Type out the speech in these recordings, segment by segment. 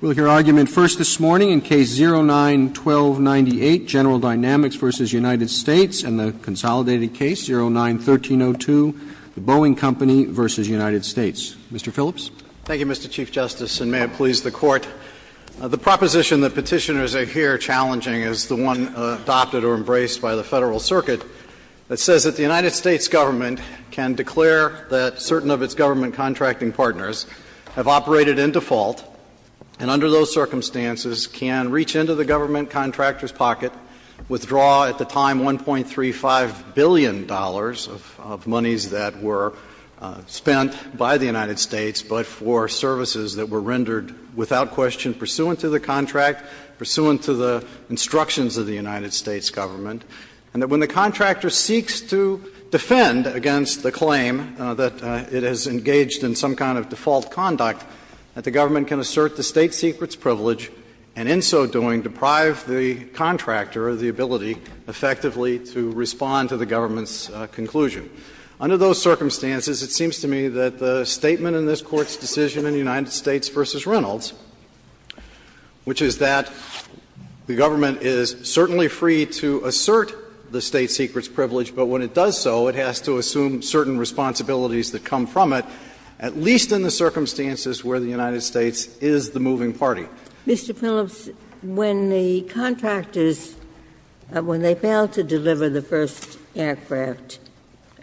We'll hear argument first this morning in Case 09-1298, General Dynamics v. United States, and the consolidated case, 09-1302, Boeing Company v. United States. Mr. Phillips. Thank you, Mr. Chief Justice, and may it please the Court. The proposition that Petitioners are here challenging is the one adopted or embraced by the Federal Circuit that says that the United States Government can declare that certain of its government contracting partners have operated in default and under those circumstances can reach into the government contractor's pocket, withdraw at the time $1.35 billion of monies that were spent by the United States but for services that were rendered without question pursuant to the contract, pursuant to the instructions of the United States Government, and that when the government does so, that it has engaged in some kind of default conduct, that the government can assert the state secret's privilege, and in so doing deprive the contractor of the ability effectively to respond to the government's conclusion. Under those circumstances, it seems to me that the statement in this Court's decision in United States v. Reynolds, which is that the government is certainly free to assert the state secret's privilege, but when it does so, it has to assume certain responsibilities that come from it, at least in the circumstances where the United States is the moving party. Ginsburg. Mr. Phillips, when the contractors, when they failed to deliver the first aircraft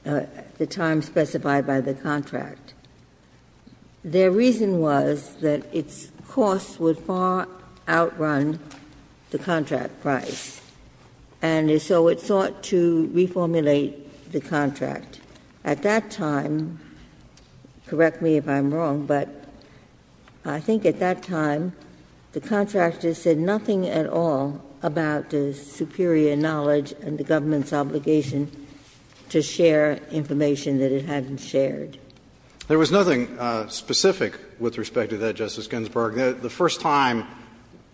at the time specified by the contract, their reason was that its cost would far outrun the contract price, and so it sought to reformulate the contract. At that time, correct me if I'm wrong, but I think at that time the contractors said nothing at all about the superior knowledge and the government's obligation to share information that it hadn't shared. There was nothing specific with respect to that, Justice Ginsburg. The first time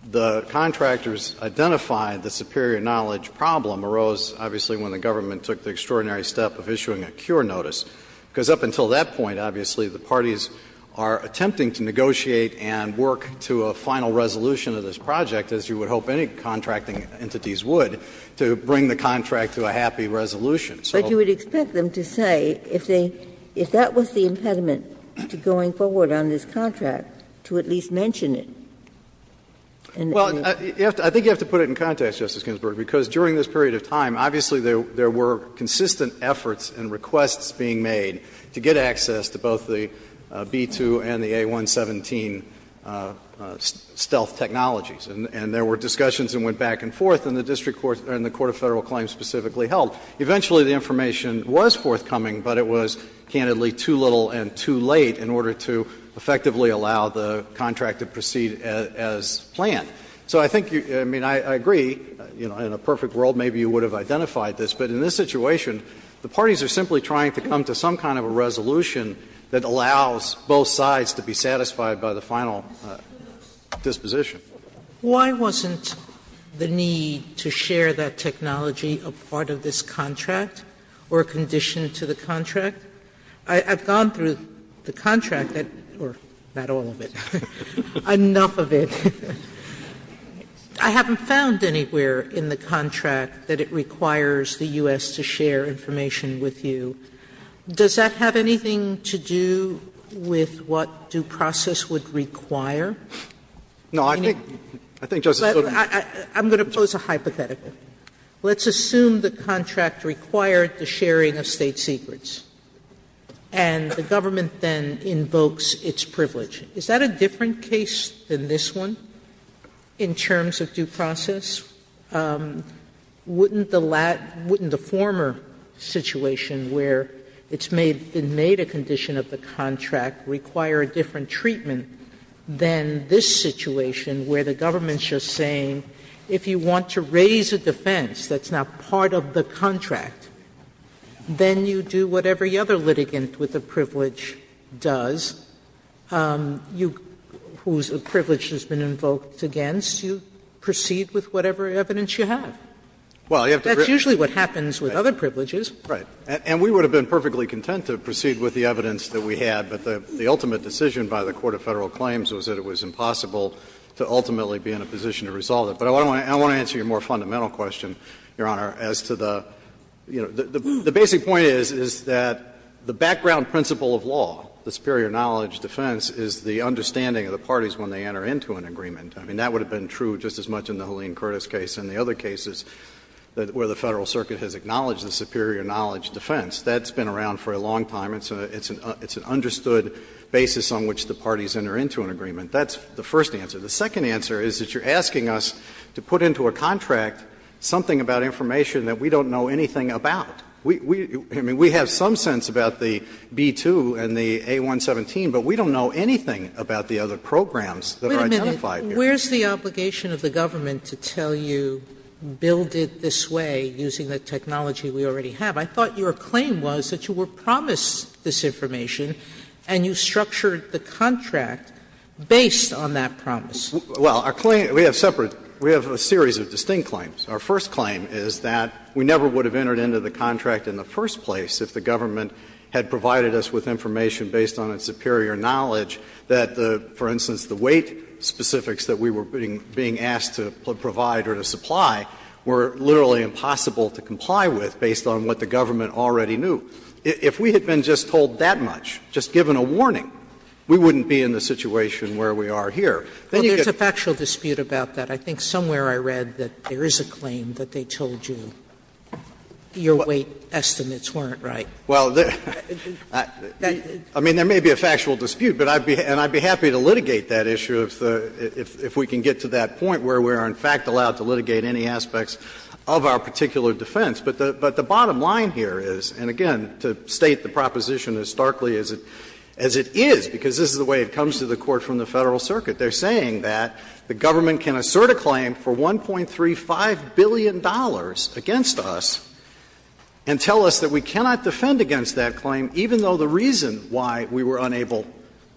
the contractors identified the superior knowledge problem arose, obviously, when the government took the extraordinary step of issuing a cure notice, because up until that point, obviously, the parties are attempting to negotiate and work to a final resolution of this project, as you would hope any contracting entities would, to bring the contract to a happy resolution. So you would expect them to say, if they, if that was the impediment to going forward on this contract, to at least mention it. Well, I think you have to put it in context, Justice Ginsburg, because during this period of time, obviously, there were consistent efforts and requests being made to get access to both the B-2 and the A-117 stealth technologies, and there were discussions that went back and forth, and the district court and the court of Federal claims specifically held. Eventually, the information was forthcoming, but it was, candidly, too little and too late in order to effectively allow the contract to proceed as planned. So I think you, I mean, I agree, you know, in a perfect world, maybe you would have identified this. But in this situation, the parties are simply trying to come to some kind of a resolution that allows both sides to be satisfied by the final disposition. Sotomayor, why wasn't the need to share that technology a part of this contract or a condition to the contract? I've gone through the contract that or not all of it, enough of it. I haven't found anywhere in the contract that it requires the U.S. to share information with you. Does that have anything to do with what due process would require? No, I think, I think Justice Sotomayor. I'm going to pose a hypothetical. Let's assume the contract required the sharing of State secrets. And the government then invokes its privilege. Is that a different case than this one in terms of due process? Wouldn't the former situation where it's made, it made a condition of the contract require a different treatment than this situation where the government's just saying if you want to raise a defense that's not part of the contract, then you do whatever the other litigant with the privilege does, whose privilege has been invoked against, you proceed with whatever evidence you have? That's usually what happens with other privileges. Right. And we would have been perfectly content to proceed with the evidence that we had, but the ultimate decision by the court of Federal claims was that it was impossible to ultimately be in a position to resolve it. But I want to answer your more fundamental question, Your Honor, as to the, you know, the basic point is, is that the background principle of law, the superior knowledge defense, is the understanding of the parties when they enter into an agreement. I mean, that would have been true just as much in the Helene Curtis case and the other cases where the Federal Circuit has acknowledged the superior knowledge defense. That's been around for a long time. It's an understood basis on which the parties enter into an agreement. That's the first answer. The second answer is that you're asking us to put into a contract something about information that we don't know anything about. I mean, we have some sense about the B-2 and the A-117, but we don't know anything about the other programs that are identified here. Sotomayor, where's the obligation of the government to tell you, build it this way using the technology we already have? I thought your claim was that you were promised this information and you structured the contract based on that promise. Well, our claim, we have separate, we have a series of distinct claims. Our first claim is that we never would have entered into the contract in the first place if the government had provided us with information based on its superior knowledge that the, for instance, the weight specifics that we were being asked to provide or to supply were literally impossible to comply with based on what the government already knew. If we had been just told that much, just given a warning, we wouldn't be in the situation where we are here. Sotomayor, there's a factual dispute about that. I think somewhere I read that there is a claim that they told you your weight estimates weren't right. Well, I mean, there may be a factual dispute, but I'd be happy to litigate that issue if we can get to that point where we are in fact allowed to litigate any aspects of our particular defense. But the bottom line here is, and again, to state the proposition as starkly as it is, because this is the way it comes to the Court from the Federal Circuit, they're going to put a claim for $1.35 billion against us and tell us that we cannot defend against that claim, even though the reason why we were unable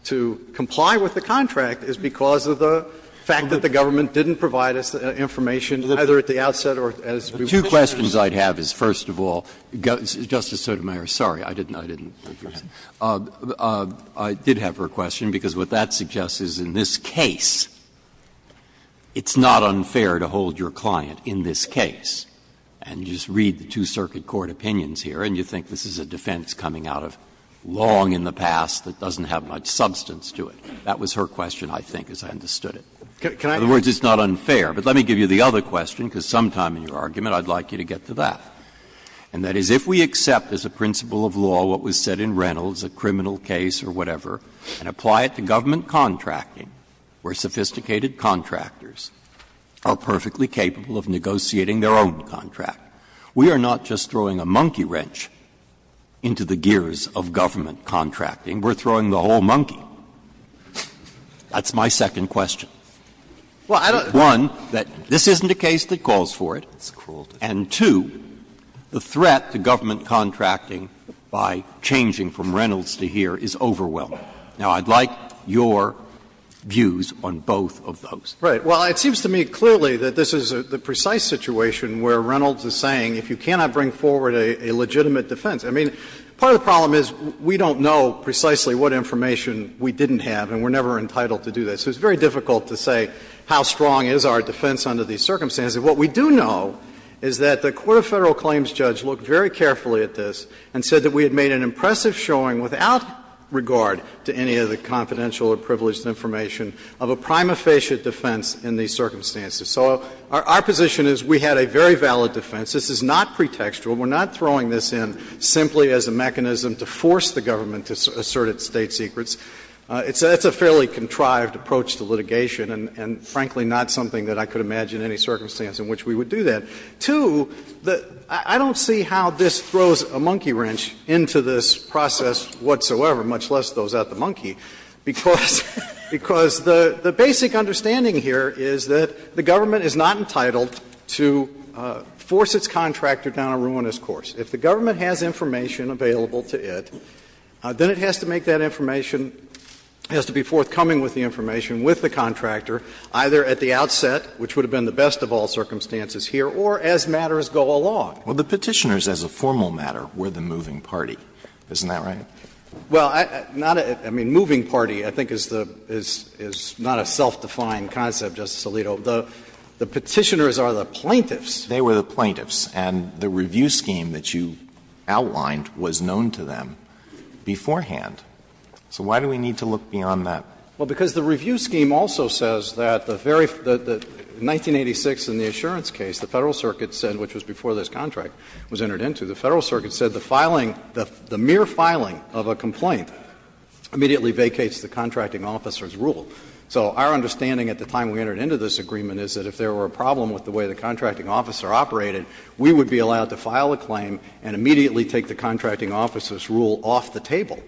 to comply with the contract is because of the fact that the government didn't provide us information either at the outset or as we were picturing. Breyer. Two questions I'd have is, first of all, Justice Sotomayor, sorry, I didn't, I didn't hear you say. I did have her question, because what that suggests is in this case, it's not unfair to hold your client in this case and just read the two circuit court opinions here and you think this is a defense coming out of long in the past that doesn't have much substance to it. That was her question, I think, as I understood it. In other words, it's not unfair. But let me give you the other question, because sometime in your argument I'd like you to get to that. And that is, if we accept as a principle of law what was said in Reynolds, a criminal case or whatever, and apply it to government contracting, where sophisticated contractors are perfectly capable of negotiating their own contract, we are not just throwing a monkey wrench into the gears of government contracting. We're throwing the whole monkey. That's my second question. One, that this isn't a case that calls for it. And two, the threat to government contracting by changing from Reynolds to here is overwhelming. Now, I'd like your views on both of those. Right. Well, it seems to me clearly that this is the precise situation where Reynolds is saying if you cannot bring forward a legitimate defense. I mean, part of the problem is we don't know precisely what information we didn't have and we're never entitled to do that. So it's very difficult to say how strong is our defense under these circumstances. What we do know is that the court of Federal Claims judge looked very carefully at this and said that we had made an impressive showing without regard to any of the confidential or privileged information of a prima facie defense in these circumstances. So our position is we had a very valid defense. This is not pretextual. We're not throwing this in simply as a mechanism to force the government to assert its State secrets. It's a fairly contrived approach to litigation and, frankly, not something that I could imagine any circumstance in which we would do that. Two, I don't see how this throws a monkey wrench into this process whatsoever, much less throws out the monkey, because the basic understanding here is that the government is not entitled to force its contractor down a ruinous course. If the government has information available to it, then it has to make that information as to be forthcoming with the information with the contractor, either at the outset, which would have been the best of all circumstances here, or as matters go along. Alito, the Petitioners as a formal matter were the moving party, isn't that right? Well, not a – I mean, moving party I think is the – is not a self-defined concept, Justice Alito. The Petitioners are the plaintiffs. They were the plaintiffs. And the review scheme that you outlined was known to them beforehand. So why do we need to look beyond that? Well, because the review scheme also says that the very – that 1986 in the Assurance case, the Federal Circuit said, which was before this contract was entered into, the Federal Circuit said the filing, the mere filing of a complaint immediately vacates the contracting officer's rule. So our understanding at the time we entered into this agreement is that if there were a problem with the way the contracting officer operated, we would be allowed to file a claim and immediately take the contracting officer's rule off the table.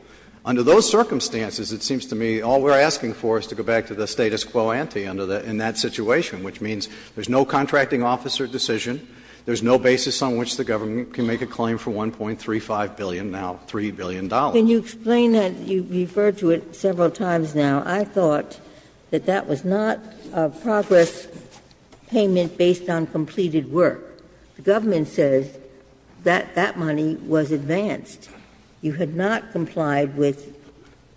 Under those circumstances, it seems to me all we are asking for is to go back to the status quo ante under the – in that situation, which means there is no contracting officer decision, there is no basis on which the government can make a claim for $1.35 billion, now $3 billion. Ginsburg. Can you explain that? You referred to it several times now. I thought that that was not a progress payment based on completed work. The government says that that money was advanced. You had not complied with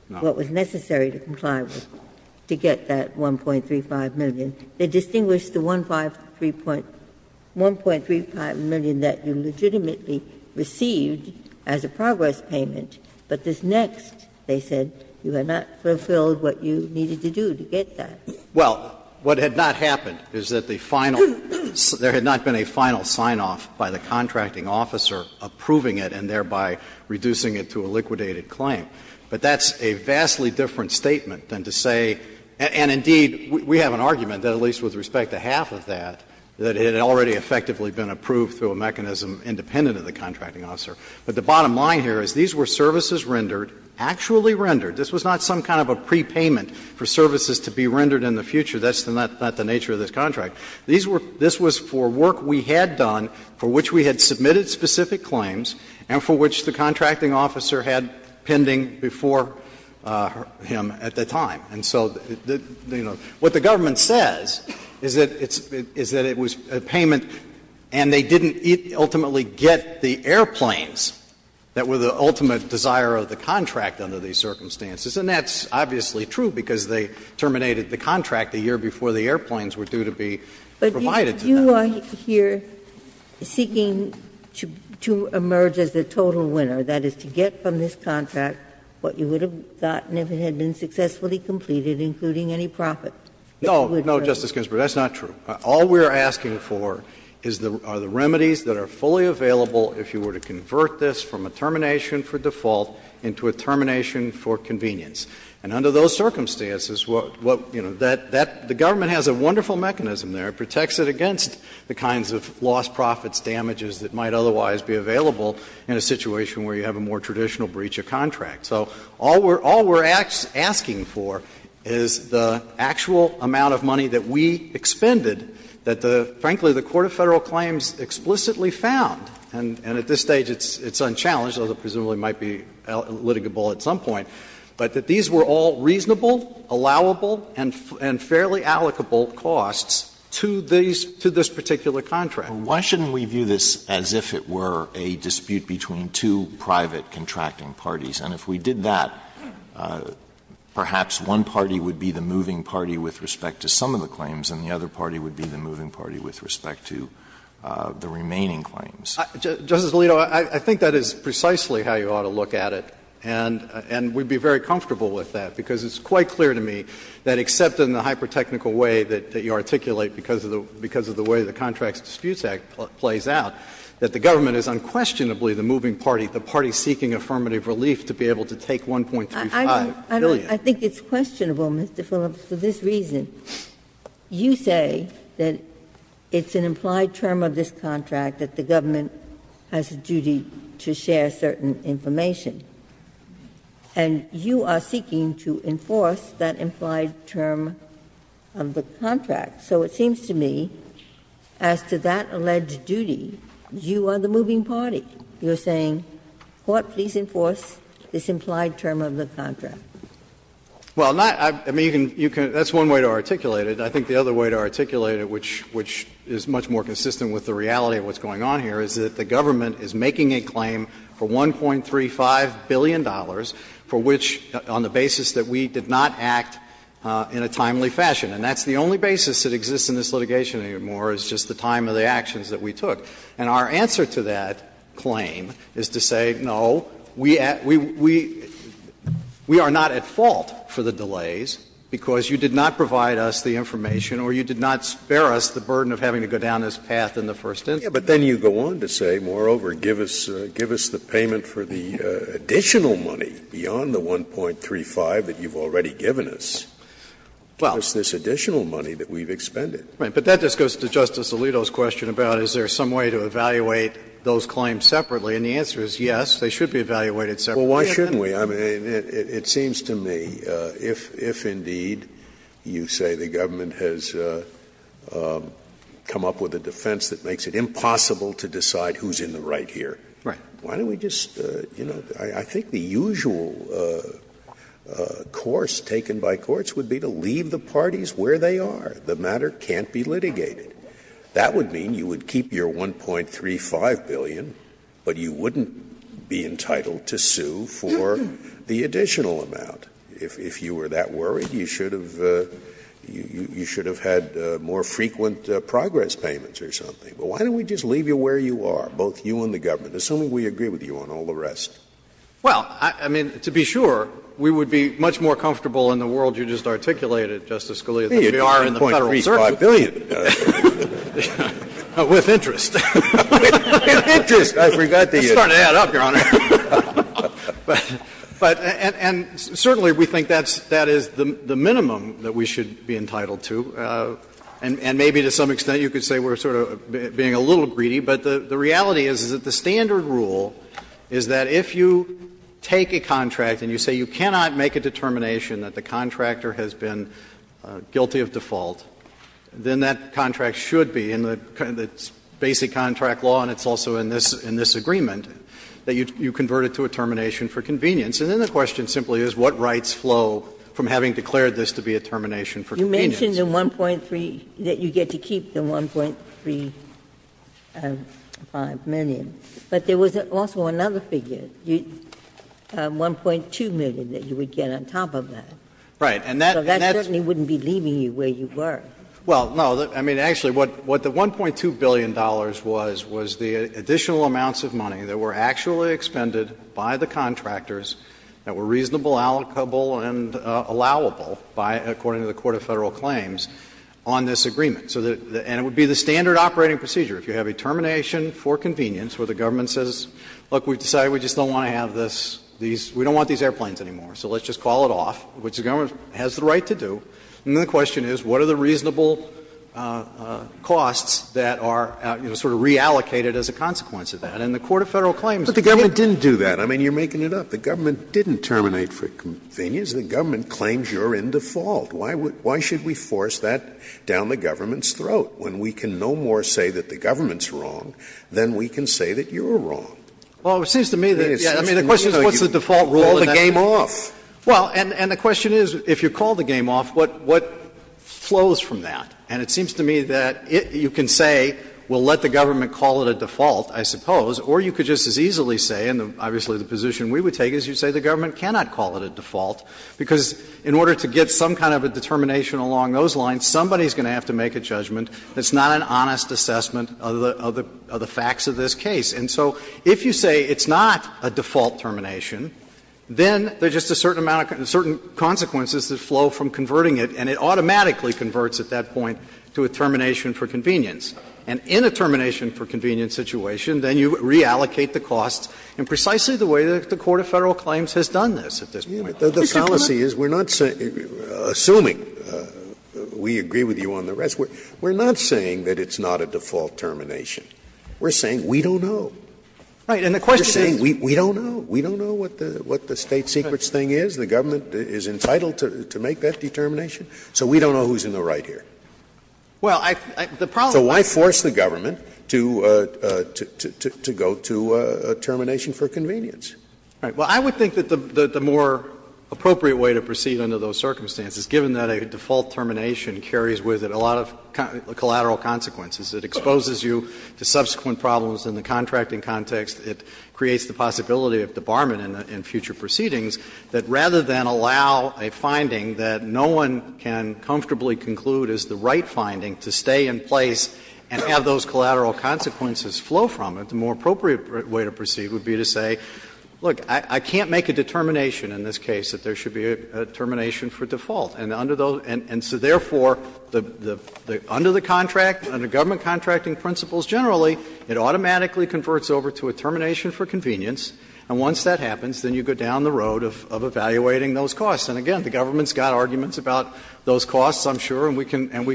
what was necessary to comply with to get that $1.35 million. They distinguished the $1.35 million that you legitimately received as a progress payment, but this next, they said, you had not fulfilled what you needed to do to get that. Well, what had not happened is that the final – there had not been a final sign-off by the contracting officer approving it and thereby reducing it to a liquidated claim. But that's a vastly different statement than to say – and indeed, we have an argument that at least with respect to half of that, that it had already effectively been approved through a mechanism independent of the contracting officer. But the bottom line here is these were services rendered, actually rendered. This was not some kind of a prepayment for services to be rendered in the future. That's not the nature of this contract. These were – this was for work we had done for which we had submitted specific claims and for which the contracting officer had pending before him at the time. And so, you know, what the government says is that it's – is that it was a payment and they didn't ultimately get the airplanes that were the ultimate desire of the contract under these circumstances. And that's obviously true because they terminated the contract a year before the contract was provided to them. But you are here seeking to emerge as the total winner, that is, to get from this contract what you would have gotten if it had been successfully completed, including any profit. No, no, Justice Ginsburg, that's not true. All we are asking for is the – are the remedies that are fully available if you were to convert this from a termination for default into a termination for convenience. And under those circumstances, what – you know, that – the government has a wonderful mechanism there. It protects it against the kinds of lost profits, damages that might otherwise be available in a situation where you have a more traditional breach of contract. So all we are – all we are asking for is the actual amount of money that we expended, that the – frankly, the court of Federal claims explicitly found, and at this stage it's unchallenged, although it presumably might be litigable at some point, but that these were all reasonable, allowable, and fairly allocable costs to these – to this particular contract. Alito, why shouldn't we view this as if it were a dispute between two private contracting parties? And if we did that, perhaps one party would be the moving party with respect to some of the claims and the other party would be the moving party with respect to the remaining claims. Justice Alito, I think that is precisely how you ought to look at it. And we would be very comfortable with that, because it's quite clear to me that except in the hyper-technical way that you articulate because of the way the Contracts Disputes Act plays out, that the government is unquestionably the moving party, the party seeking affirmative relief to be able to take $1.35 billion. I think it's questionable, Mr. Phillips, for this reason. You say that it's an implied term of this contract that the government has a duty to share certain information, and you are seeking to enforce that implied term of the contract. So it seems to me, as to that alleged duty, you are the moving party. You are saying, court, please enforce this implied term of the contract. Phillips, Well, not – I mean, you can – that's one way to articulate it. I think the other way to articulate it, which is much more consistent with the reality of what's going on here, is that the government is making a claim for $1.35 billion for which, on the basis that we did not act in a timely fashion. And that's the only basis that exists in this litigation anymore, is just the time of the actions that we took. And our answer to that claim is to say, no, we are not at fault for the delays, because you did not provide us the information or you did not spare us the burden of having to go down this path in the first instance. Scalia, But then you go on to say, moreover, give us the payment for the additional money beyond the $1.35 that you've already given us. It's this additional money that we've expended. Phillips, Right. But that just goes to Justice Alito's question about is there some way to evaluate those claims separately. And the answer is yes, they should be evaluated separately. Scalia, Well, why shouldn't we? I mean, it seems to me, if indeed you say the government has come up with a defense that makes it impossible to decide who's in the right here, why don't we just, you know, I think the usual course taken by courts would be to leave the parties where they are. The matter can't be litigated. That would mean you would keep your $1.35 billion, but you wouldn't be entitled to sue for the additional amount. If you were that worried, you should have had more frequent progress payments or something. But why don't we just leave you where you are, both you and the government, assuming we agree with you on all the rest? Phillips, Well, I mean, to be sure, we would be much more comfortable in the world you just articulated, Justice Scalia, that we are in the Federal Circuit. Scalia, $1.35 billion. Phillips, With interest. Scalia, With interest. I forgot that you had. Phillips, It's starting to add up, Your Honor. But, and certainly we think that's, that is the minimum that we should be entitled to, and maybe to some extent you could say we're sort of being a little greedy. But the reality is that the standard rule is that if you take a contract and you say you cannot make a determination that the contractor has been guilty of default, then that contract should be in the basic contract law, and it's also in this agreement, that you convert it to a termination for convenience. And then the question simply is what rights flow from having declared this to be a termination for convenience. Ginsburg, You mentioned the 1.3, that you get to keep the 1.3 and 5 million. But there was also another figure, 1.2 million that you would get on top of that. Phillips, Right. And that, and that's Ginsburg, So that certainly wouldn't be leaving you where you were. Phillips, Well, no, I mean, actually, what the $1.2 billion was, was the additional amounts of money that were actually expended by the contractors that were reasonable, allocable, and allowable by, according to the Court of Federal Claims, on this agreement. So the, and it would be the standard operating procedure. If you have a termination for convenience where the government says, look, we've decided we just don't want to have this, these, we don't want these airplanes anymore, so let's just call it off, which the government has the right to do. And then the question is what are the reasonable costs that are, you know, sort of reallocated as a consequence of that. And the Court of Federal Claims, Scalia, But the government didn't do that. I mean, you're making it up. The government didn't terminate for convenience. The government claims you're in default. Why would, why should we force that down the government's throat when we can no more say that the government's wrong than we can say that you're wrong? Phillips, Well, it seems to me that, yes, I mean, the question is what's the default rule in that case? Scalia, Call the game off. Phillips, Well, and the question is, if you call the game off, what flows from that? And it seems to me that you can say, well, let the government call it a default, I suppose, or you could just as easily say, and obviously the position we would take is you say the government cannot call it a default, because in order to get some kind of a determination along those lines, somebody's going to have to make a judgment. It's not an honest assessment of the facts of this case. And so if you say it's not a default termination, then there's just a certain amount of, certain consequences that flow from converting it, and it automatically converts at that point to a termination for convenience. And in a termination for convenience situation, then you reallocate the costs in precisely the way that the court of Federal claims has done this at this point. Scalia, The policy is we're not saying, assuming we agree with you on the rest, we're not saying that it's not a default termination. We're saying we don't know. Phillips, Right. And the question is? Scalia, We don't know. We don't know what the State Secrets thing is. The government is entitled to make that determination. So we don't know who's in the right here. Phillips, Well, I the problem is. Scalia, So why force the government to go to termination for convenience? Phillips, Right. Well, I would think that the more appropriate way to proceed under those circumstances, given that a default termination carries with it a lot of collateral consequences, it exposes you to subsequent problems in the contracting context, it creates the possibility of debarment in future proceedings, that rather than allow a finding that no one has can comfortably conclude is the right finding to stay in place and have those collateral consequences flow from it, the more appropriate way to proceed would be to say, look, I can't make a determination in this case that there should be a termination for default. And under those and so therefore, under the contract, under government contracting principles generally, it automatically converts over to a termination for convenience, and once that happens, then you go down the road of evaluating those costs. And again, the government's got arguments about those costs, I'm sure, and we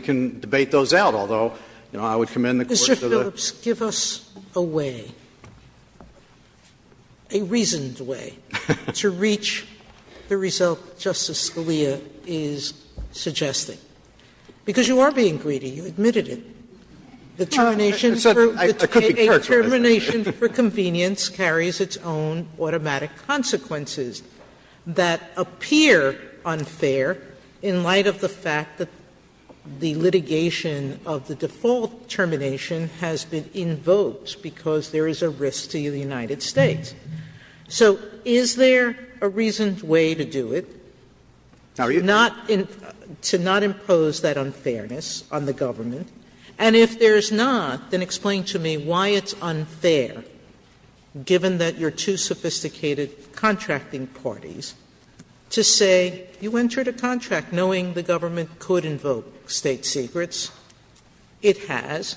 can debate those out, although, you know, I would commend the Court to the. Sotomayor Mr. Phillips, give us a way, a reasoned way, to reach the result Justice Scalia is suggesting. Because you are being greedy. You admitted it. The termination for convenience carries its own automatic consequences that appear unfair in light of the fact that the litigation of the default termination has been invoked because there is a risk to the United States. So is there a reasoned way to do it? Phillips Are you? Sotomayor To not impose that unfairness on the government. And if there is not, then explain to me why it's unfair, given that you are two sophisticated contracting parties, to say you entered a contract knowing the government could invoke State secrets, it has,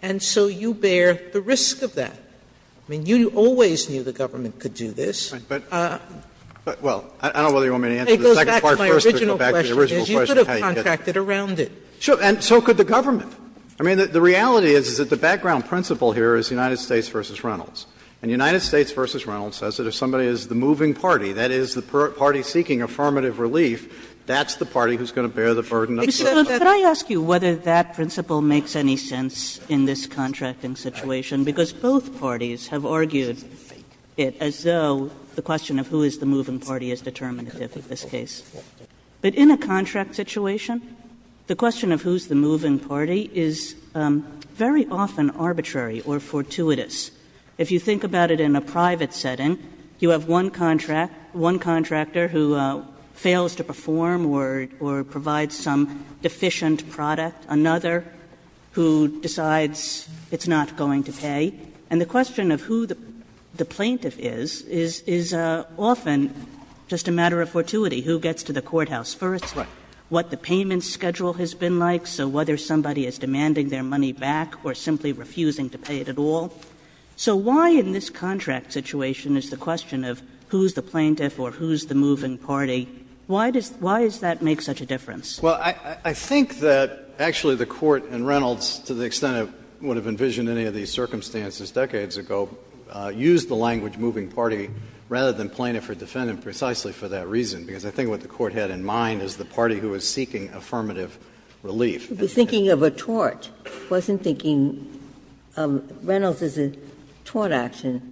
and so you bear the risk of that. I mean, you always knew the government could do this. But, well, I don't know whether you want me to answer the second part first or go back to the original question. Sotomayor You could have contracted around it. Phillips Sure, and so could the government. I mean, the reality is that the background principle here is United States v. Reynolds. And United States v. Reynolds says that if somebody is the moving party, that is, the party seeking affirmative relief, that's the party who is going to bear the burden of the contract. Kagan Could I ask you whether that principle makes any sense in this contracting situation, because both parties have argued it as though the question of who is the moving party is determinative in this case. But in a contract situation, the question of who is the moving party is very often arbitrary or fortuitous. If you think about it in a private setting, you have one contract, one contractor who fails to perform or provides some deficient product, another who decides it's not going to pay, and the question of who the plaintiff is, is often just a matter of fortuity, who gets to the courthouse first, what the payment schedule has been like, so whether somebody is demanding their money back or simply refusing to pay it at all. So why in this contract situation is the question of who is the plaintiff or who is the moving party, why does that make such a difference? Phillips Well, I think that actually the Court in Reynolds, to the extent it would have envisioned any of these circumstances decades ago, used the language moving party rather than plaintiff or defendant precisely for that reason, because I think what the Court had in mind is the party who is seeking affirmative relief. Ginsburg I think you should be thinking of a tort. I wasn't thinking Reynolds is a tort action.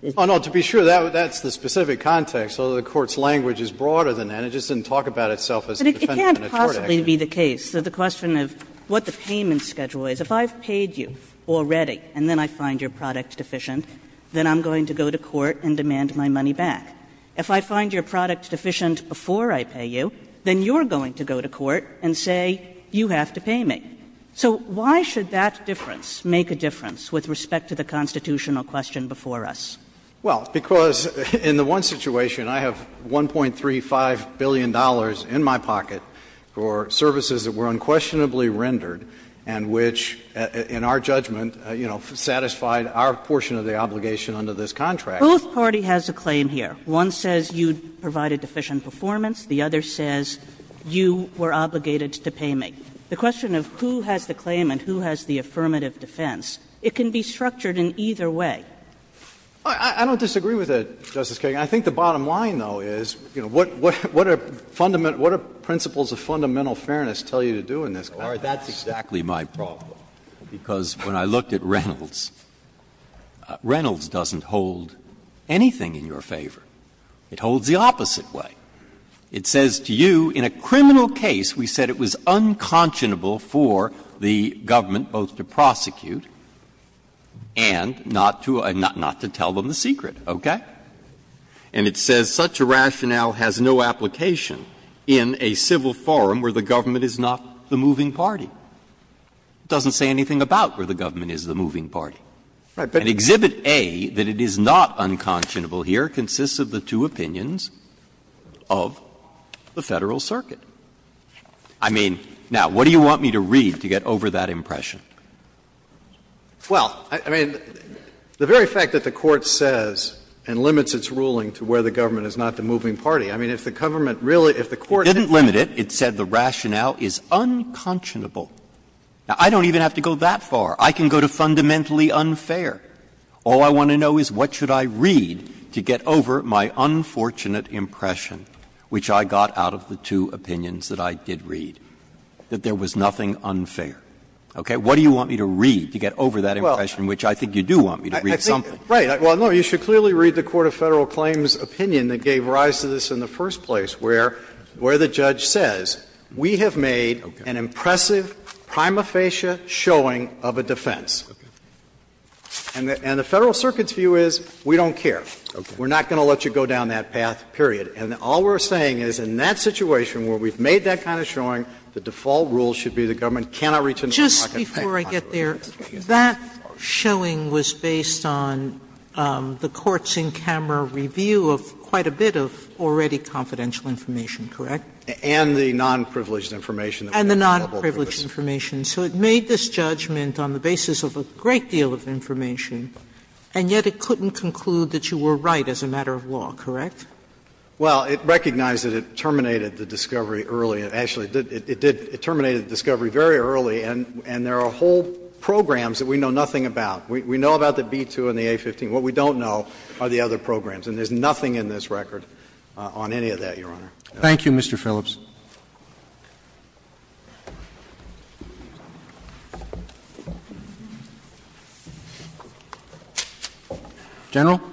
Phillips Oh, no. To be sure, that's the specific context, although the Court's language is broader than that. It just didn't talk about itself as a defendant in a tort action. Kagan But it can't possibly be the case that the question of what the payment schedule is. If I've paid you already and then I find your product deficient, then I'm going to go to court and demand my money back. If I find your product deficient before I pay you, then you're going to go to court and say, you have to pay me. So why should that difference make a difference with respect to the constitutional question before us? Phillips Well, because in the one situation, I have $1.35 billion in my pocket for services that were unquestionably rendered and which, in our judgment, you know, satisfied our portion of the obligation under this contract. Kagan Both parties have a claim here. One says you provided deficient performance. The other says you were obligated to pay me. The question of who has the claim and who has the affirmative defense, it can be structured in either way. Phillips I don't disagree with that, Justice Kagan. I think the bottom line, though, is, you know, what are fundamental – what do principles of fundamental fairness tell you to do in this context? Breyer That's exactly my problem, because when I looked at Reynolds, Reynolds doesn't hold anything in your favor. It holds the opposite way. It says to you, in a criminal case, we said it was unconscionable for the government both to prosecute and not to – not to tell them the secret, okay? And it says such a rationale has no application in a civil forum where the government is not the moving party. It doesn't say anything about where the government is the moving party. And Exhibit A, that it is not unconscionable here, consists of the two opinions of the Federal Circuit. I mean, now, what do you want me to read to get over that impression? Phillips Well, I mean, the very fact that the Court says and limits its ruling to where the government is not the moving party, I mean, if the government really – if the Court didn't limit it, it said the rationale is unconscionable. Now, I don't even have to go that far. I can go to fundamentally unfair. All I want to know is what should I read to get over my unfortunate impression, which I got out of the two opinions that I did read, that there was nothing unfair. Okay? What do you want me to read to get over that impression, which I think you do want me to read something? Phillips Right. Well, no, you should clearly read the court of Federal claims opinion that gave rise to this in the first place, where the judge says, we have made an impressive prima facie showing of a defense. And the Federal Circuit's view is, we don't care. We're not going to let you go down that path, period. And all we're saying is, in that situation where we've made that kind of showing, the default rule should be the government cannot reach into the market and pay. Sotomayor Just before I get there, that showing was based on the court's in-camera review of quite a bit of already confidential information, correct? And the nonprivileged information that we have available to us. And the nonprivileged information, so it made this judgment on the basis of a great deal of information, and yet it couldn't conclude that you were right as a matter of law, correct? Phillips Well, it recognized that it terminated the discovery early. Actually, it did – it terminated the discovery very early, and there are whole programs that we know nothing about. We know about the B-2 and the A-15. What we don't know are the other programs. And there's nothing in this record on any of that, Your Honor. Roberts Thank you, Mr. Phillips. General. Katyal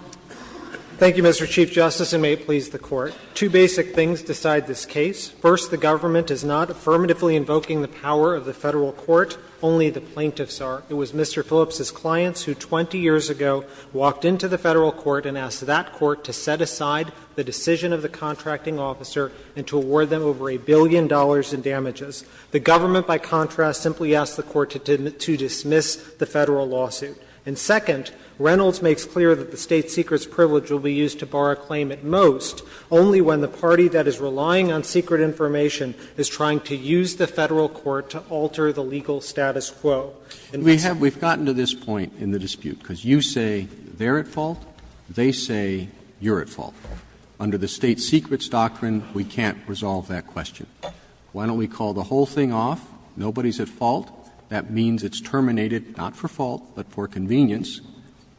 Thank you, Mr. Chief Justice, and may it please the Court. Two basic things decide this case. First, the government is not affirmatively invoking the power of the Federal Court, only the plaintiffs are. It was Mr. Phillips' clients who 20 years ago walked into the Federal Court and asked that court to set aside the decision of the contracting officer and to award them over a billion dollars in damages. The government, by contrast, simply asked the court to dismiss the Federal lawsuit. And second, Reynolds makes clear that the state secret's privilege will be used to bar a claim at most only when the party that is relying on secret information is trying to use the Federal court to alter the legal status quo. And that's why I'm saying that the government is not affirmatively invoking the power of the Federal court. They say you're at fault. Under the state secret's doctrine, we can't resolve that question. Why don't we call the whole thing off, nobody's at fault? That means it's terminated, not for fault, but for convenience,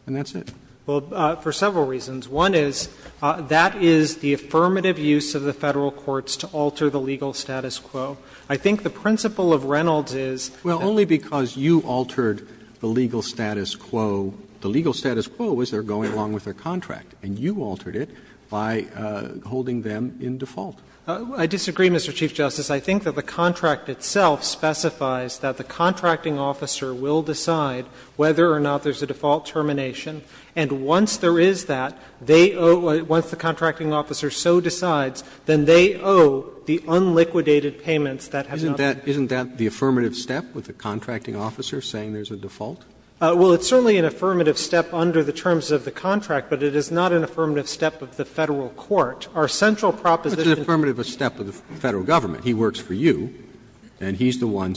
and that's it. Katyal Well, for several reasons. One is, that is the affirmative use of the Federal courts to alter the legal status quo. I think the principle of Reynolds is that Roberts Well, only because you altered the legal status quo. The legal status quo is they're going along with their contract, and you altered it by holding them in default. Katyal I disagree, Mr. Chief Justice. I think that the contract itself specifies that the contracting officer will decide whether or not there's a default termination, and once there is that, they owe the one thing the contracting officer so decides, then they owe the unliquidated payments that have not been paid. Roberts Isn't that the affirmative step, with the contracting officer saying there's a default? Katyal Well, it's certainly an affirmative step under the terms of the contract, but it is not an affirmative step of the Federal court. Our central proposition Roberts What's an affirmative step of the Federal government? He works for you, and he's the one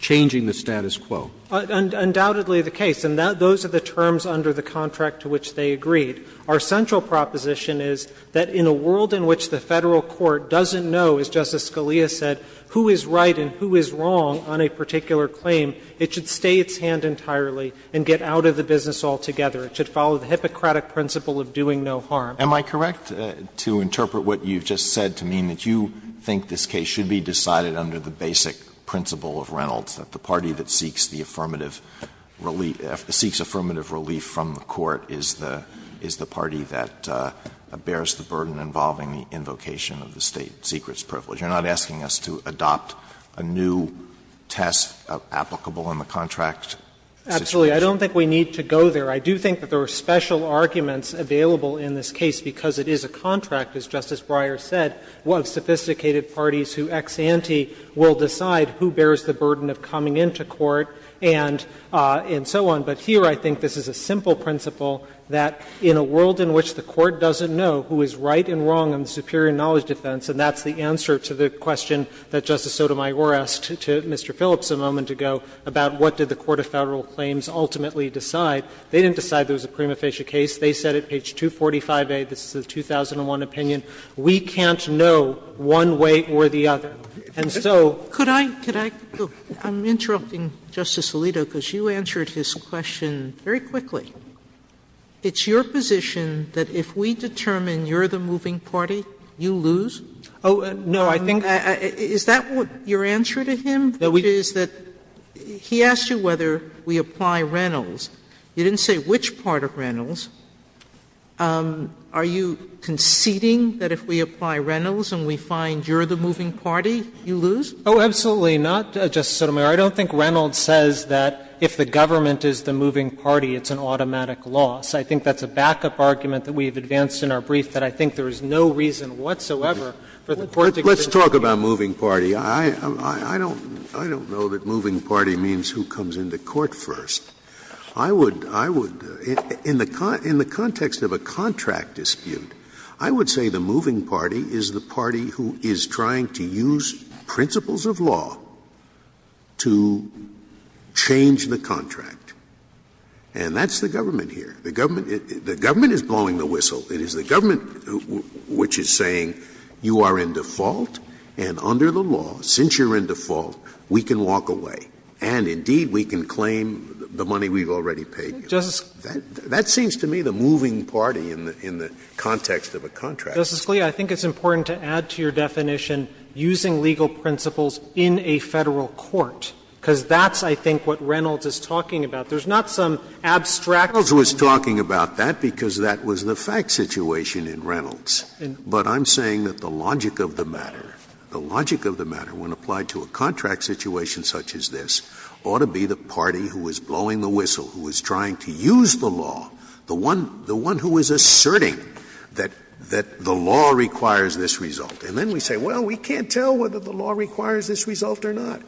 changing the status quo. Katyal Undoubtedly the case, and those are the terms under the contract to which they agreed. Our central proposition is that in a world in which the Federal court doesn't know, as Justice Scalia said, who is right and who is wrong on a particular claim, it should stay its hand entirely and get out of the business altogether. It should follow the Hippocratic principle of doing no harm. Alito Am I correct to interpret what you've just said to mean that you think this case should be decided under the basic principle of Reynolds, that the party that seeks the affirmative relief, seeks affirmative relief from the court is the party that bears the burden involving the invocation of the state secrets privilege? You're not asking us to adopt a new test applicable in the contract situation? Katyal Absolutely. I don't think we need to go there. I do think that there are special arguments available in this case because it is a contract, as Justice Breyer said, of sophisticated parties who ex ante will decide who bears the burden of coming into court and so on. But here I think this is a simple principle that in a world in which the court doesn't know who is right and wrong on the superior knowledge defense, and that's the answer to the question that Justice Sotomayor asked to Mr. Phillips a moment ago about what did the court of Federal claims ultimately decide. They didn't decide there was a prima facie case. They said at page 245A, this is the 2001 opinion, we can't know one way or the other. And so Sotomayor Could I go? I'm interrupting Justice Alito because you answered his question very quickly. It's your position that if we determine you're the moving party, you lose? Katyal Oh, no, I think Sotomayor Is that your answer to him, which is that he asked you whether we apply Reynolds. You didn't say which part of Reynolds. Are you conceding that if we apply Reynolds and we find you're the moving party, you lose? Katyal Oh, absolutely not, Justice Sotomayor. I don't think Reynolds says that if the government is the moving party, it's an automatic I think that's a backup argument that we have advanced in our brief that I think there is no reason whatsoever for the court to consider that. Scalia Let's talk about moving party. I don't know that moving party means who comes into court first. I would, in the context of a contract dispute, I would say the moving party is the party who is trying to use principles of law to change the contract. The government is blowing the whistle. It is the government which is saying you are in default and under the law, since you're in default, we can walk away and indeed we can claim the money we've already paid you. That seems to me the moving party in the context of a contract. Katyal Justice Scalia, I think it's important to add to your definition using legal principles in a Federal court, because that's, I think, what Reynolds is talking about. There's not some abstract Scalia Reynolds was talking about that because that was the fact situation in Reynolds. But I'm saying that the logic of the matter, the logic of the matter when applied to a contract situation such as this ought to be the party who is blowing the whistle, who is trying to use the law, the one who is asserting that the law requires this result. And then we say, well, we can't tell whether the law requires this result or not.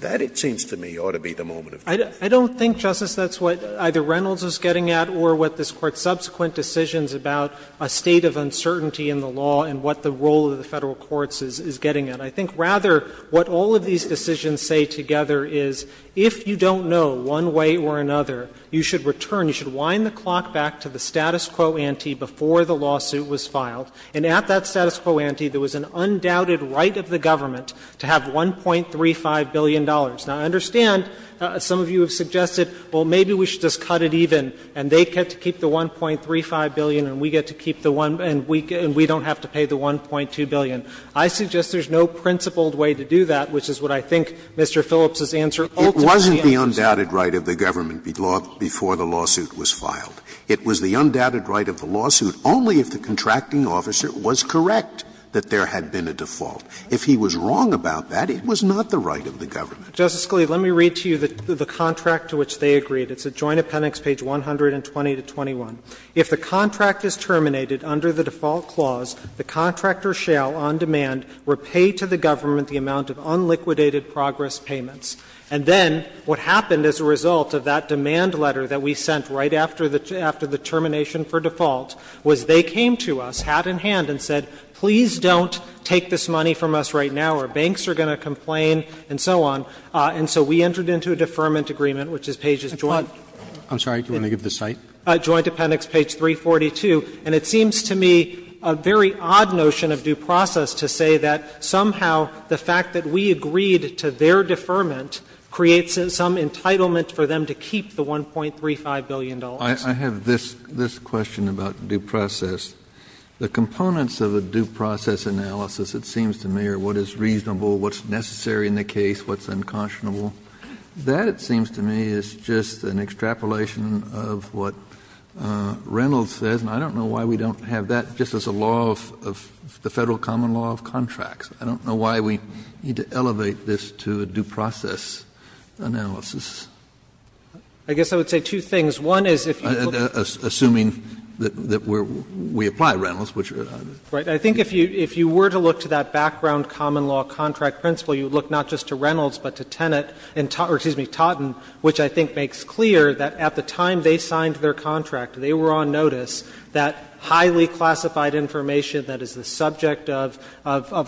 That, it seems to me, ought to be the moving party. Katyal I don't think, Justice, that's what either Reynolds is getting at or what this Court's subsequent decisions about a state of uncertainty in the law and what the role of the Federal courts is getting at. I think, rather, what all of these decisions say together is if you don't know one way or another, you should return, you should wind the clock back to the status quo ante before the lawsuit was filed, and at that status quo ante there was an undoubted right of the government to have $1.35 billion. Now, I understand some of you have suggested, well, maybe we should just cut it even and they get to keep the $1.35 billion and we get to keep the one and we don't have to pay the $1.2 billion. I suggest there's no principled way to do that, which is what I think Mr. Phillips' answer ultimately is. Scalia It wasn't the undoubted right of the government before the lawsuit was filed. It was the undoubted right of the lawsuit only if the contracting officer was correct that there had been a default. If he was wrong about that, it was not the right of the government. Katyal Justice Scalia, let me read to you the contract to which they agreed. It's at Joint Appendix, page 120 to 21. If the contract is terminated under the default clause, the contractor shall, on demand, repay to the government the amount of unliquidated progress payments. And then what happened as a result of that demand letter that we sent right after the termination for default was they came to us, hat in hand, and said, please don't take this money from us right now, or banks are going to complain, and so on. And so we entered into a deferment agreement, which is pages joint. Roberts I'm sorry. Do you want to give the site? Katyal Joint Appendix, page 342. And it seems to me a very odd notion of due process to say that somehow the fact that we agreed to their deferment creates some entitlement for them to keep the $1.35 billion. Kennedy I have this question about due process. The components of a due process analysis, it seems to me, are what is reasonable, what's necessary in the case, what's unconscionable. That, it seems to me, is just an extrapolation of what Reynolds says, and I don't know why we don't have that just as a law of the Federal common law of contracts. I don't know why we need to elevate this to a due process analysis. Katyal I guess I would say two things. One is if you look at the Kennedy Assuming that we apply Reynolds, which are Katyal Right. I think if you were to look to that background common law contract principle, you would look not just to Reynolds, but to Tenet, or excuse me, Totten, which I think makes clear that at the time they signed their contract, they were on notice that highly classified information that is the subject of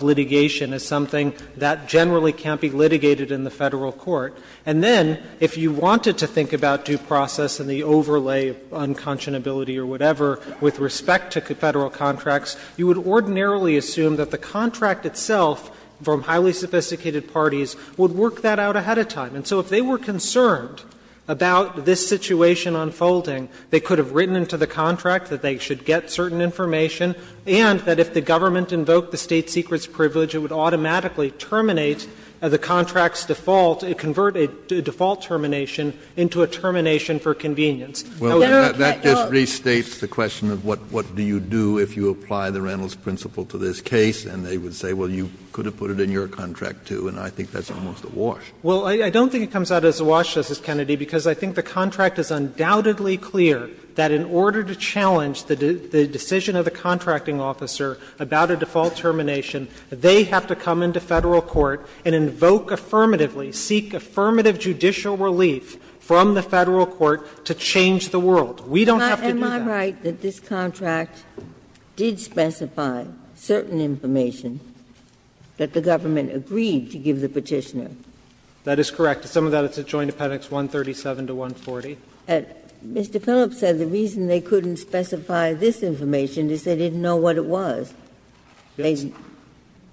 litigation is something that generally can't be litigated in the Federal court. And then, if you wanted to think about due process and the overlay of unconscionability or whatever, with respect to Federal contracts, you would ordinarily assume that the contract itself, from highly sophisticated parties, would work that out ahead of time. And so if they were concerned about this situation unfolding, they could have written into the contract that they should get certain information, and that if the government invoked the state secrets privilege, it would automatically terminate the contract's default. It would convert a default termination into a termination for convenience. Kennedy, that just restates the question of what do you do if you apply the Reynolds principle to this case, and they would say, well, you could have put it in your contract, too, and I think that's almost a wash. Well, I don't think it comes out as a wash, Justice Kennedy, because I think the contract is undoubtedly clear that in order to challenge the decision of the contracting officer about a default termination, they have to come into Federal court and invoke affirmatively, seek affirmative judicial relief from the Federal court to change the world. We don't have to do that. Ginsburg. Am I right that this contract did specify certain information that the government agreed to give the Petitioner? That is correct. To sum it up, it's at Joint Appendix 137 to 140. Mr. Phillips said the reason they couldn't specify this information is they didn't know what it was. They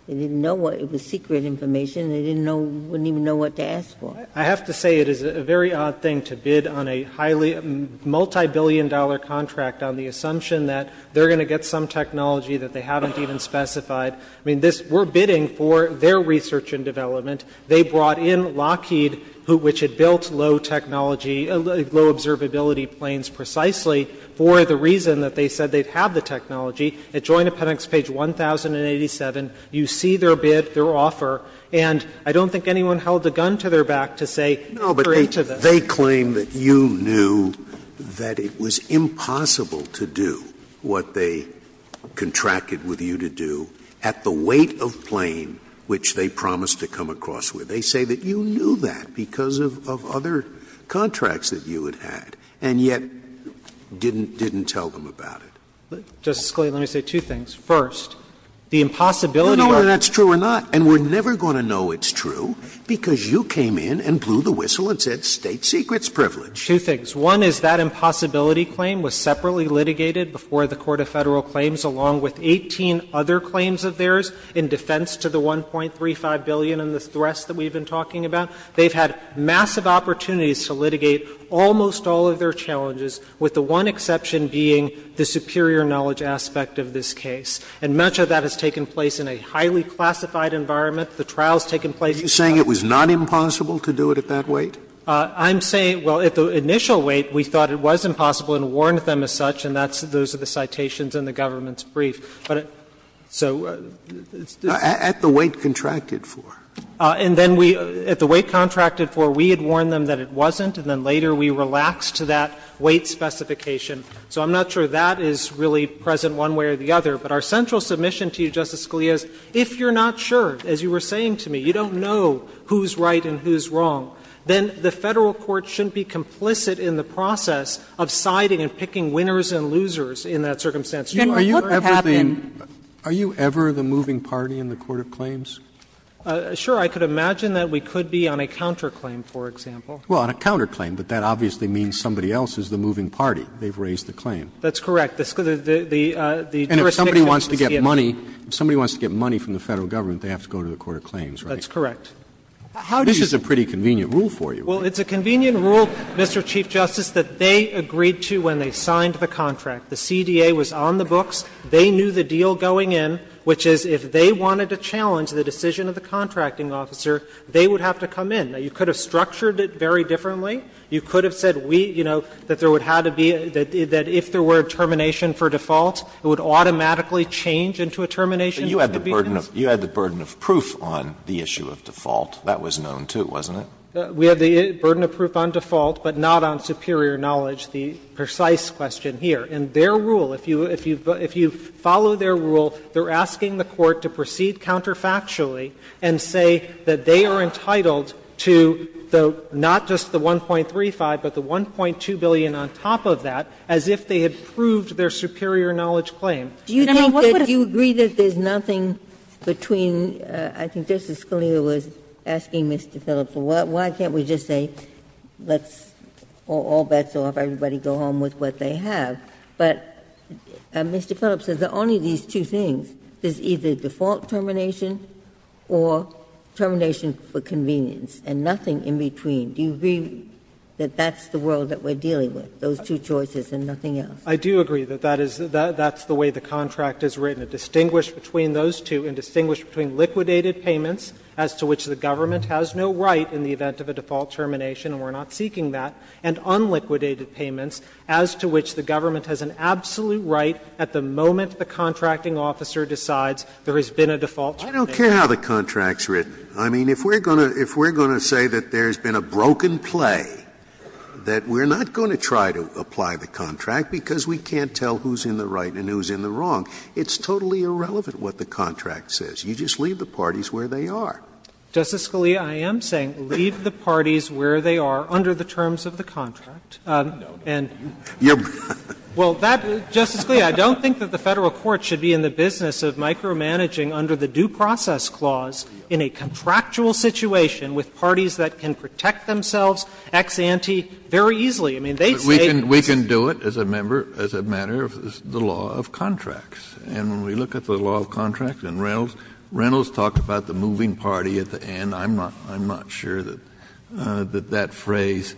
didn't know what it was, secret information. They didn't know, wouldn't even know what to ask for. I have to say it is a very odd thing to bid on a highly, multibillion-dollar contract on the assumption that they're going to get some technology that they haven't even specified. I mean, this we're bidding for their research and development. They brought in Lockheed, which had built low technology, low observability planes precisely for the reason that they said they'd have the technology. At Joint Appendix page 1087, you see their bid, their offer. And I don't think anyone held a gun to their back to say, great to them. Scalia, but they claim that you knew that it was impossible to do what they contracted with you to do at the weight of plane, which they promised to come across with. They say that you knew that because of other contracts that you had had, and yet didn't tell them about it. Justice Scalia, let me say two things. First, the impossibility of a contract that you had. You don't know whether that's true or not. And we're never going to know it's true, because you came in and blew the whistle and said State Secrets privilege. Two things. One is that impossibility claim was separately litigated before the Court of Federal Claims, along with 18 other claims of theirs in defense to the $1.35 billion and the threats that we've been talking about. They've had massive opportunities to litigate almost all of their challenges, with the one exception being the superior knowledge aspect of this case. And much of that has taken place in a highly classified environment. The trial's taken place in a highly classified environment. Scalia, are you saying it was not impossible to do it at that weight? I'm saying, well, at the initial weight, we thought it was impossible and warned them as such, and that's those are the citations in the government's brief. But so it's different. At the weight contracted for. And then we at the weight contracted for, we had warned them that it wasn't, and then later we relaxed to that weight specification. So I'm not sure that is really present one way or the other. But our central submission to you, Justice Scalia, is if you're not sure, as you were saying to me, you don't know who's right and who's wrong, then the Federal court shouldn't be complicit in the process of siding and picking winners and losers in that circumstance. You are looking at everything. Roberts, are you ever the moving party in the Court of Claims? Sure, I could imagine that we could be on a counterclaim, for example. Well, on a counterclaim, but that obviously means somebody else is the moving party. They've raised the claim. That's correct. The jurisdiction is the CMT. And if somebody wants to get money, if somebody wants to get money from the Federal government, they have to go to the Court of Claims, right? That's correct. How do you say? This is a pretty convenient rule for you. Well, it's a convenient rule, Mr. Chief Justice, that they agreed to when they signed the contract. The CDA was on the books. They knew the deal going in, which is if they wanted to challenge the decision of the contracting officer, they would have to come in. Now, you could have structured it very differently. You could have said we, you know, that there would have to be a – that if there were a termination for default, it would automatically change into a termination for convenience. But you had the burden of proof on the issue of default. That was known, too, wasn't it? We had the burden of proof on default, but not on superior knowledge, the precise question here. In their rule, if you follow their rule, they're asking the Court to proceed counterfactually and say that they are entitled to the – not just the one thing in 1.35, but the 1.2 billion on top of that, as if they had proved their superior knowledge claim. And I mean, what would a – Do you think that – do you agree that there's nothing between – I think Justice Scalia was asking Mr. Phillips, well, why can't we just say let's – all bets are off, everybody go home with what they have. But Mr. Phillips says that only these two things, there's either default termination or termination for convenience, and nothing in between. Do you agree that that's the world that we're dealing with, those two choices and nothing else? I do agree that that is – that's the way the contract is written. It distinguished between those two and distinguished between liquidated payments as to which the government has no right in the event of a default termination and we're not seeking that, and unliquidated payments as to which the government has an absolute right at the moment the contracting officer decides there has been a default termination. I don't care how the contract's written. I mean, if we're going to say that there's been a broken play, that we're not going to try to apply the contract because we can't tell who's in the right and who's in the wrong, it's totally irrelevant what the contract says. You just leave the parties where they are. Justice Scalia, I am saying leave the parties where they are under the terms of the contract. And you're – well, that – Justice Scalia, I don't think that the Federal Court should be in the business of micromanaging under the due process clause in a contractual situation with parties that can protect themselves ex ante very easily. I mean, they say it's just a matter of the law of contracts. And when we look at the law of contracts and Reynolds, Reynolds talked about the moving party at the end. I'm not sure that that phrase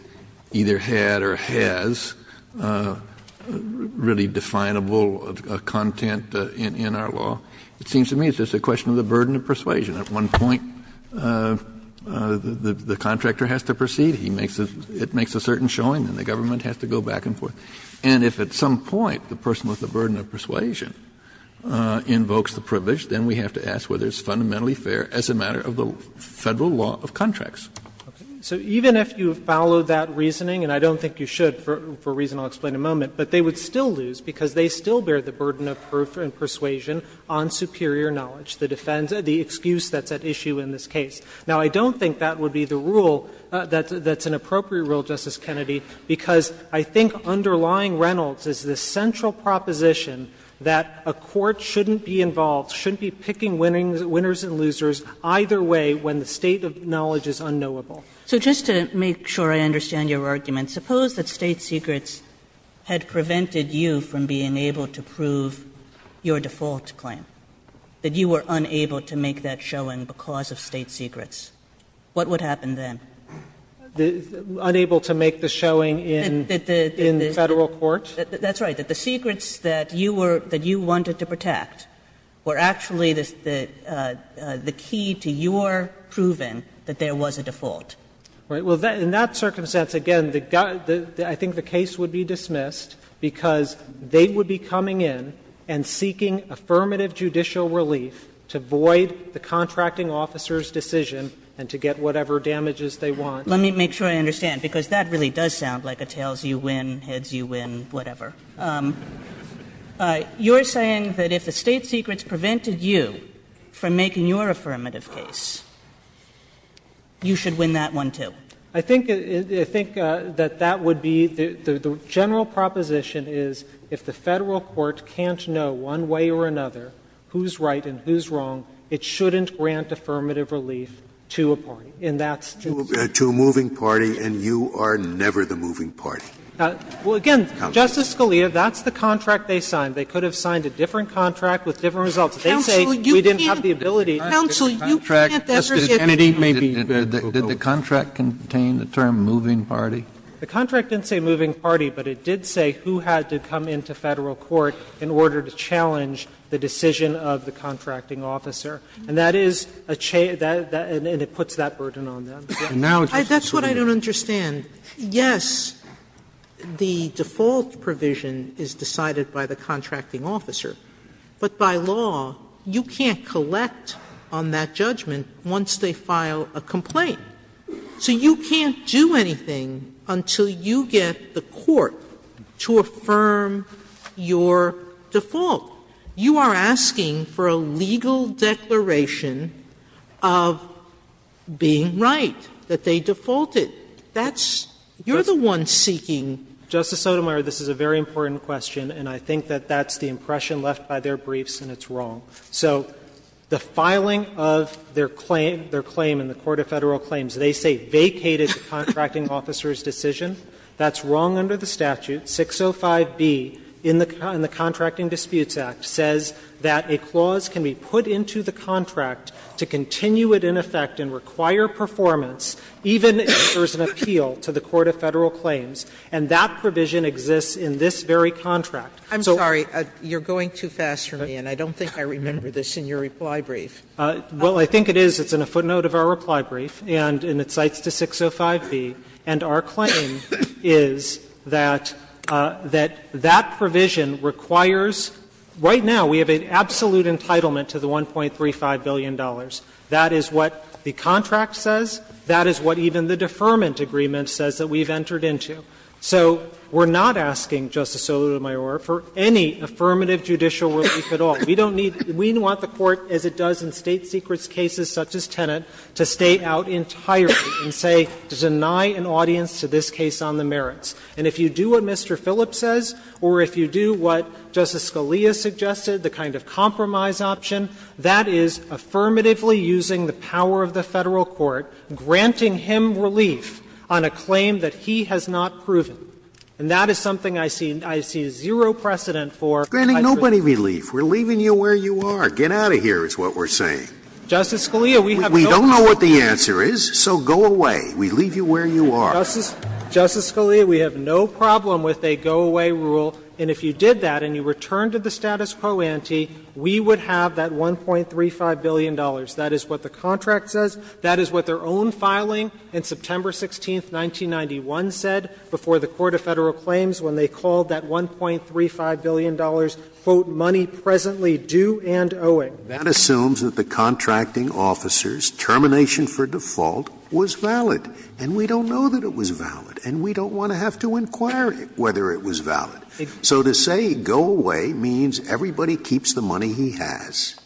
either had or has really definable content in our law. It seems to me it's just a question of the burden of persuasion. At one point, the contractor has to proceed, he makes a – it makes a certain showing, and the government has to go back and forth. And if at some point the person with the burden of persuasion invokes the privilege, then we have to ask whether it's fundamentally fair as a matter of the Federal law of contracts. So even if you follow that reasoning, and I don't think you should for a reason I'll explain in a moment, but they would still lose because they still bear the burden of proof and persuasion on superior knowledge, the defense – the excuse that's at issue in this case. Now, I don't think that would be the rule that's an appropriate rule, Justice Kennedy, because I think underlying Reynolds is the central proposition that a court shouldn't be involved, shouldn't be picking winners and losers either way when the state of knowledge is unknowable. Kagan. So just to make sure I understand your argument, suppose that State Secrets had prevented you from being able to prove your default claim, that you were unable to make that showing because of State Secrets. What would happen then? Unable to make the showing in the Federal court? That's right. That the secrets that you were – that you wanted to protect were actually the key to your proving that there was a default. Right. Because they would be coming in and seeking affirmative judicial relief to void the contracting officer's decision and to get whatever damages they want. Let me make sure I understand, because that really does sound like a tails-you-win, heads-you-win, whatever. You're saying that if the State Secrets prevented you from making your affirmative case, you should win that one, too. I think that that would be the general proposition is if the Federal court can't know one way or another who's right and who's wrong, it shouldn't grant affirmative relief to a party. And that's just the way it is. To a moving party, and you are never the moving party. Well, again, Justice Scalia, that's the contract they signed. They could have signed a different contract with different results. They say we didn't have the ability to. Counsel, you can't ever say that. Kennedy, maybe. Did the contract contain the term moving party? The contract didn't say moving party, but it did say who had to come into Federal court in order to challenge the decision of the contracting officer. And that is a change that puts that burden on them. And now, Justice Scalia. That's what I don't understand. Yes, the default provision is decided by the contracting officer, but by law you can't collect on that judgment once they file a complaint. So you can't do anything until you get the court to affirm your default. You are asking for a legal declaration of being right, that they defaulted. That's you're the one seeking. Justice Sotomayor, this is a very important question, and I think that that's the impression left by their briefs, and it's wrong. So the filing of their claim in the Court of Federal Claims, they say vacated the contracting officer's decision. That's wrong under the statute. 605B in the Contracting Disputes Act says that a clause can be put into the contract to continue it in effect and require performance, even if there is an appeal to the Court of Federal Claims, and that provision exists in this very contract. Sotomayor, I'm sorry, you're going too fast for me, and I don't think I remember this in your reply brief. Well, I think it is. It's in a footnote of our reply brief, and it cites to 605B. And our claim is that that provision requires right now we have an absolute entitlement to the $1.35 billion. That is what the contract says. That is what even the deferment agreement says that we've entered into. So we're not asking, Justice Sotomayor, for any affirmative judicial relief at all. We don't need to do that. We want the Court, as it does in State secrets cases such as Tenet, to stay out entirely and say, to deny an audience to this case on the merits. And if you do what Mr. Phillips says, or if you do what Justice Scalia suggested, the kind of compromise option, that is affirmatively using the power of the Federal Court, granting him relief on a claim that he has not proven. And that is something I see zero precedent for. Scalia, we have no problem with a go-away rule, and if you did that and you returned to the status quo ante, we would have that $1.35 billion. That is what the contract says. That is what their own filing in September 16th, 1991, said before the Court of Federal Claims when they called that $1.35 billion, quote, money presently due and owing. Scalia, that assumes that the contracting officer's termination for default was valid. And we don't know that it was valid, and we don't want to have to inquire whether it was valid. So to say go away means everybody keeps the money he has.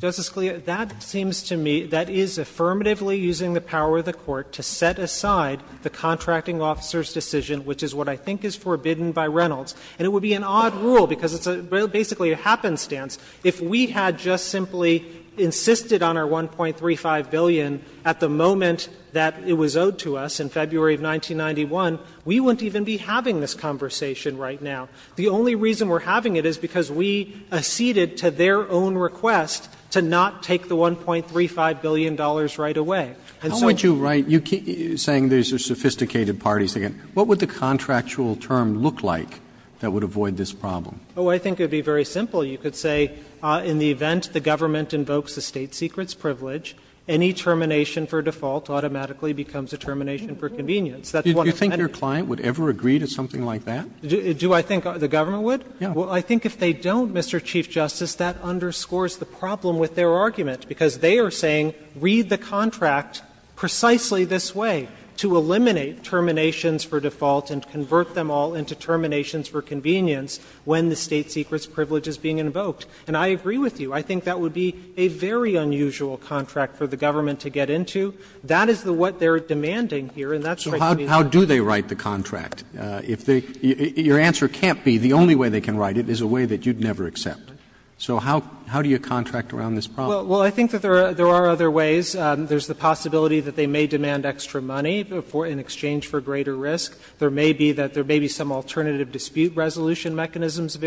Justice Scalia, that seems to me that is affirmatively using the power of the Court to set aside the contracting officer's decision, which is what I think is forbidden by Reynolds. And it would be an odd rule, because it's basically a happenstance. If we had just simply insisted on our $1.35 billion at the moment that it was owed to us in February of 1991, we wouldn't even be having this conversation right now. The only reason we're having it is because we acceded to their own request to not take the $1.35 billion right away. And so we can't do that. Roberts, you keep saying these are sophisticated parties. What would the contractual term look like that would avoid this problem? Oh, I think it would be very simple. You could say in the event the government invokes the state secret's privilege, any termination for default automatically becomes a termination for convenience. That's one of many. Do you think your client would ever agree to something like that? Do I think the government would? Yeah. Well, I think if they don't, Mr. Chief Justice, that underscores the problem with their argument, because they are saying read the contract precisely this way, to eliminate terminations for default and convert them all into terminations for convenience when the state secret's privilege is being invoked. And I agree with you. I think that would be a very unusual contract for the government to get into. That is what they're demanding here, and that's what we need. So how do they write the contract? If they — your answer can't be the only way they can write it is a way that you'd never accept. So how do you contract around this problem? Well, I think that there are other ways. There's the possibility that they may demand extra money in exchange for greater risk. There may be that there may be some alternative dispute resolution mechanisms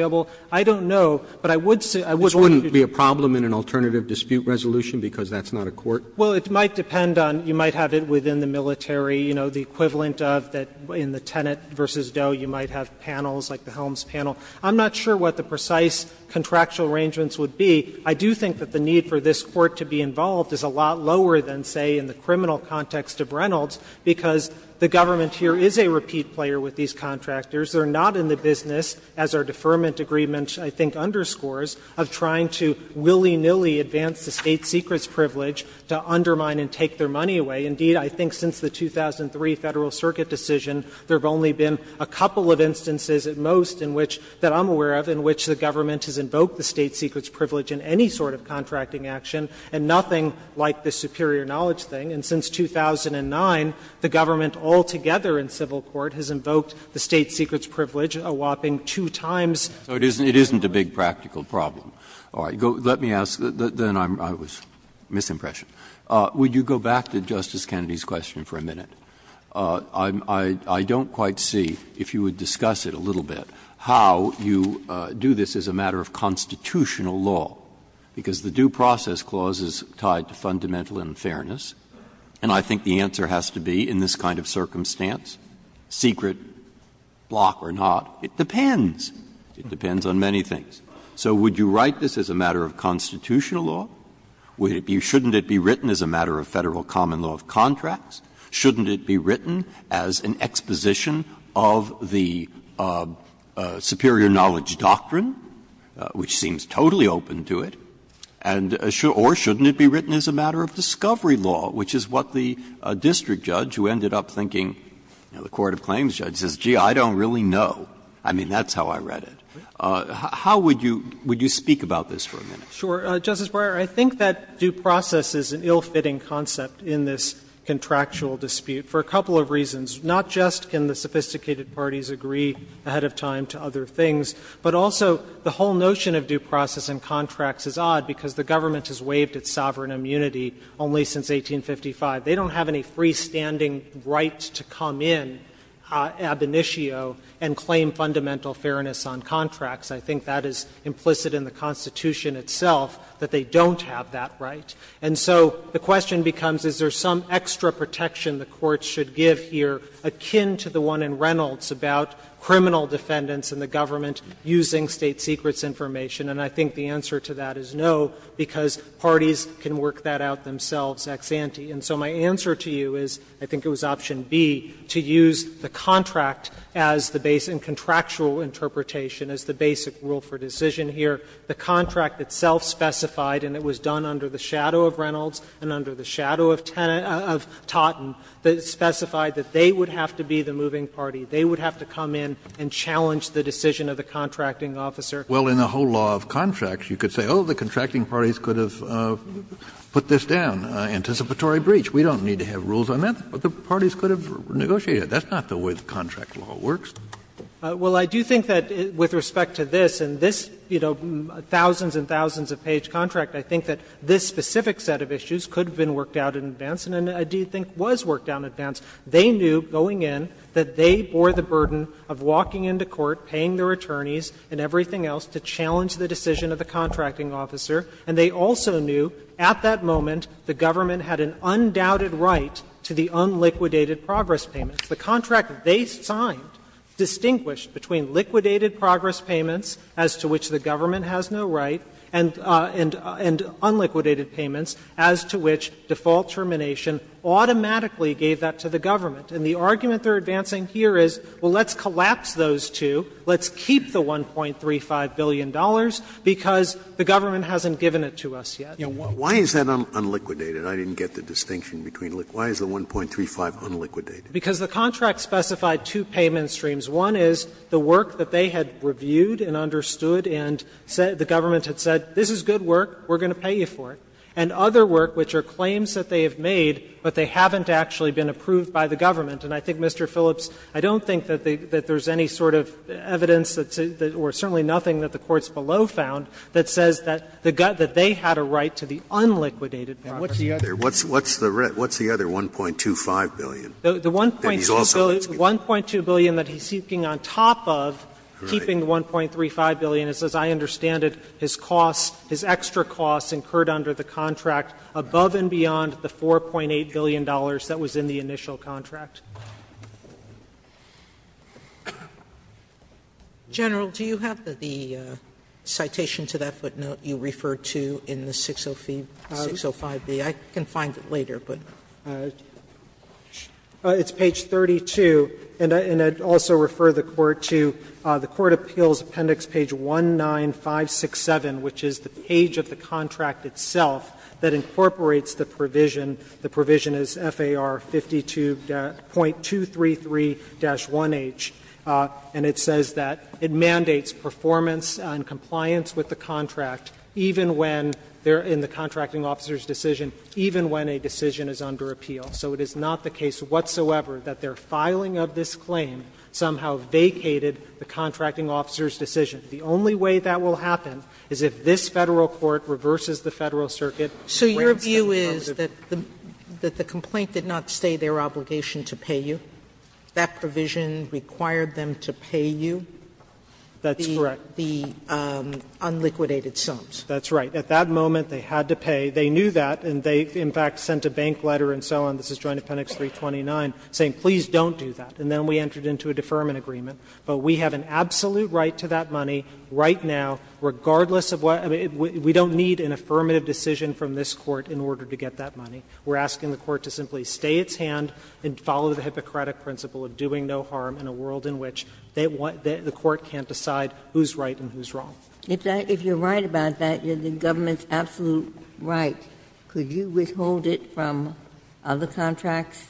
I don't know, but I would say I would like to do that. This wouldn't be a problem in an alternative dispute resolution because that's not a court? Well, it might depend on — you might have it within the military, you know, the equivalent of that in the Tenet v. Doe, you might have panels like the Helms panel. I'm not sure what the precise contractual arrangements would be. I do think that the need for this Court to be involved is a lot lower than, say, in the criminal context of Reynolds, because the government here is a repeat player with these contractors. They're not in the business, as our deferment agreement, I think, underscores, of trying to willy-nilly advance the state secret's privilege to undermine and take their money away. Indeed, I think since the 2003 Federal Circuit decision, there have only been a couple of instances at most in which, that I'm aware of, in which the government has invoked the state secret's privilege in any sort of contracting action and nothing like the superior knowledge thing. And since 2009, the government altogether in civil court has invoked the state secret's privilege a whopping two times. So it isn't a big practical problem. All right. Let me ask, then I was misimpressioned. Would you go back to Justice Kennedy's question for a minute? I don't quite see, if you would discuss it a little bit, how you do this as a matter of constitutional law, because the Due Process Clause is tied to fundamental unfairness, and I think the answer has to be, in this kind of circumstance, secret, block or not, it depends. It depends on many things. So would you write this as a matter of constitutional law? Shouldn't it be written as a matter of Federal common law of contracts? Shouldn't it be written as an exposition of the superior knowledge doctrine, which seems totally open to it? And or shouldn't it be written as a matter of discovery law, which is what the district judge, who ended up thinking, the court of claims judge, says, gee, I don't really know. I mean, that's how I read it. How would you speak about this for a minute? Sure. Justice Breyer, I think that due process is an ill-fitting concept in this contractual dispute for a couple of reasons. Not just can the sophisticated parties agree ahead of time to other things, but also the whole notion of due process and contracts is odd, because the government has waived its sovereign immunity only since 1855. They don't have any freestanding right to come in ab initio and claim fundamental fairness on contracts. I think that is implicit in the Constitution itself, that they don't have that right. And so the question becomes, is there some extra protection the courts should give here akin to the one in Reynolds about criminal defendants and the government using State Secrets information? And I think the answer to that is no, because parties can work that out themselves ex ante. And so my answer to you is, I think it was option B, to use the contract as the base and contractual interpretation as the basic rule for decision here. The contract itself specified, and it was done under the shadow of Reynolds and under the shadow of Totten, that it specified that they would have to be the moving party. They would have to come in and challenge the decision of the contracting officer. Kennedy, well, in the whole law of contracts, you could say, oh, the contracting parties could have put this down, anticipatory breach. We don't need to have rules on that, but the parties could have negotiated it. That's not the way the contract law works. Well, I do think that with respect to this, and this, you know, thousands and thousands of page contract, I think that this specific set of issues could have been worked out in advance and I do think was worked out in advance. They knew going in that they bore the burden of walking into court, paying their attorneys and everything else to challenge the decision of the contracting officer, and they also knew at that moment the government had an undoubted right to the unliquidated progress payments. The contract they signed distinguished between liquidated progress payments, as to which the government has no right, and unliquidated payments, as to which default termination automatically gave that to the government. And the argument they are advancing here is, well, let's collapse those two, let's keep the $1.35 billion, because the government hasn't given it to us yet. Scalia. Why is that unliquidated? I didn't get the distinction between the two. Why is the $1.35 billion unliquidated? Because the contract specified two payment streams. One is the work that they had reviewed and understood and the government had said this is good work, we are going to pay you for it, and other work, which are claims that they have made, but they haven't actually been approved by the government. And I think, Mr. Phillips, I don't think that there is any sort of evidence or certainly nothing that the courts below found that says that they had a right to the unliquidated progress payments. Scalia. What's the other $1.25 billion? The $1.2 billion that he's seeking on top of keeping the $1.35 billion is, as I understand it, his costs, his extra costs incurred under the contract above and beyond the $4.8 billion that was in the initial contract. Sotomayor, do you have the citation to that footnote you referred to in the 605B? I can find it later, but do you have it? It's page 32, and I'd also refer the Court to the Court Appeals Appendix page 19567, which is the page of the contract itself that incorporates the provision. The provision is FAR 52.233-1H, and it says that it mandates performance and compliance with the contract even when they're in the contracting officer's decision, even when a decision is under appeal. So it is not the case whatsoever that their filing of this claim somehow vacated the contracting officer's decision. The only way that will happen is if this Federal court reverses the Federal circuit and grants them the positive. Sotomayor, so your view is that the complaint did not stay their obligation to pay you, that provision required them to pay you? That's correct. Sotomayor, so the Court is asking the Court to simply defer the unliquidated sums. That's right. At that moment, they had to pay. They knew that, and they in fact sent a bank letter and so on, this is Joint Appendix 329, saying please don't do that. And then we entered into a deferment agreement. But we have an absolute right to that money right now, regardless of what we don't need an affirmative decision from this Court in order to get that money. We're asking the Court to simply stay its hand and follow the Hippocratic principle of doing no harm in a world in which they want the Court can't decide who's right and who's wrong. If you're right about that, you're the government's absolute right, could you withhold it from other contracts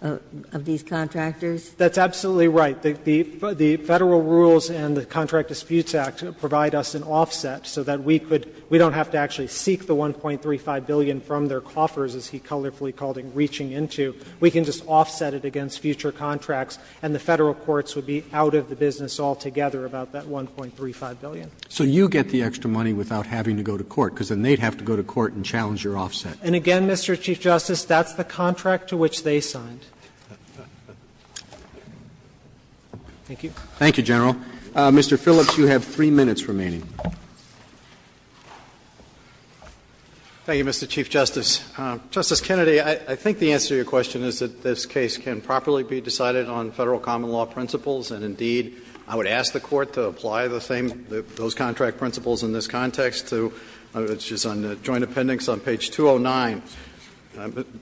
of these contractors? That's absolutely right. The Federal rules and the Contract Disputes Act provide us an offset so that we could we don't have to actually seek the $1.35 billion from their coffers, as he colorfully called it, reaching into. We can just offset it against future contracts and the Federal courts would be out of the business altogether about that $1.35 billion. Roberts. So you get the extra money without having to go to court, because then they'd have to go to court and challenge your offset. And again, Mr. Chief Justice, that's the contract to which they signed. Thank you. Thank you, General. Mr. Phillips, you have 3 minutes remaining. Thank you, Mr. Chief Justice. Justice Kennedy, I think the answer to your question is that this case can properly be decided on Federal common law principles, and indeed, I would ask the Court to apply the same, those contract principles in this context to, which is on the joint appendix on page 209.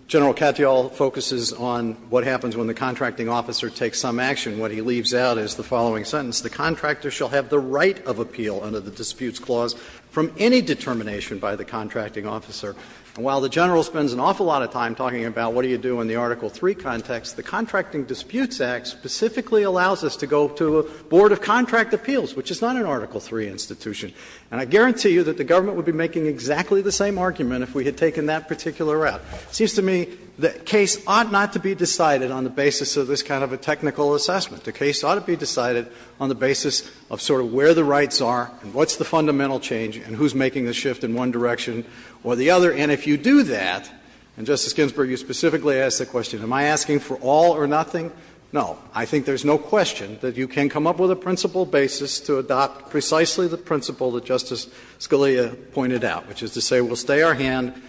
General Katyal focuses on what happens when the contracting officer takes some action. What he leaves out is the following sentence. The contractor shall have the right of appeal under the disputes clause from any determination by the contracting officer. And while the General spends an awful lot of time talking about what do you do in the Article III context, the Contracting Disputes Act specifically allows us to go to a board of contract appeals, which is not an Article III institution. And I guarantee you that the government would be making exactly the same argument if we had taken that particular route. It seems to me the case ought not to be decided on the basis of this kind of a technical assessment. The case ought to be decided on the basis of sort of where the rights are and what's the fundamental change and who's making the shift in one direction or the other. And if you do that, and, Justice Ginsburg, you specifically asked the question, am I asking for all or nothing? No. I think there's no question that you can come up with a principle basis to adopt precisely the principle that Justice Scalia pointed out, which is to say we'll stay our hand,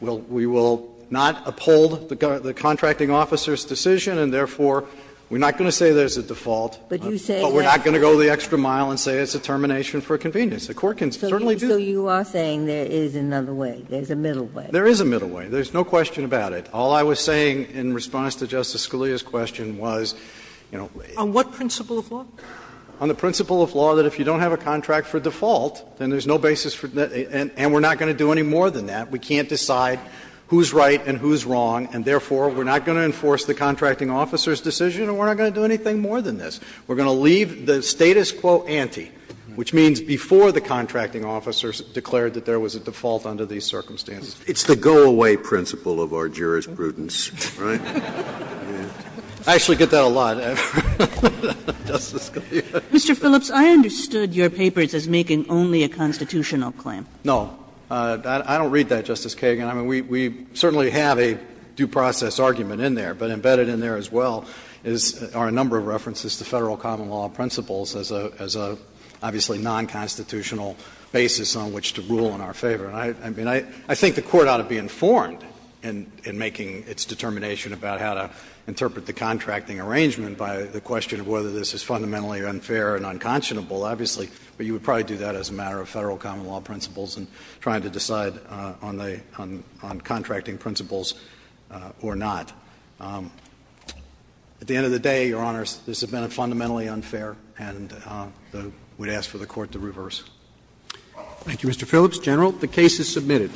we will not uphold the contracting officer's decision, and therefore we're not going to say there's a default, but we're not going to go the extra mile and say it's a termination for convenience. The Court can certainly do that. Ginsburg. So you are saying there is another way, there's a middle way. There is a middle way. There's no question about it. All I was saying in response to Justice Scalia's question was, you know, wait. On what principle of law? On the principle of law that if you don't have a contract for default, then there's no basis for that, and we're not going to do any more than that. We can't decide who's right and who's wrong, and therefore we're not going to enforce the contracting officer's decision and we're not going to do anything more than this. We're going to leave the status quo ante, which means before the contracting officer declared that there was a default under these circumstances. It's the go-away principle of our jurisprudence, right? I actually get that a lot. Justice Scalia. Mr. Phillips, I understood your papers as making only a constitutional claim. No. I don't read that, Justice Kagan. I mean, we certainly have a due process argument in there, but embedded in there as well are a number of references to Federal common law principles as a, obviously, nonconstitutional basis on which to rule in our favor. I mean, I think the Court ought to be informed in making its determination about how to interpret the contracting arrangement by the question of whether this is fundamentally unfair and unconscionable, obviously, but you would probably do that as a matter of Federal common law principles and trying to decide on contracting principles or not. At the end of the day, Your Honors, this has been fundamentally unfair, and we'd ask for the Court to reverse. Thank you, Mr. Phillips. General, the case is submitted.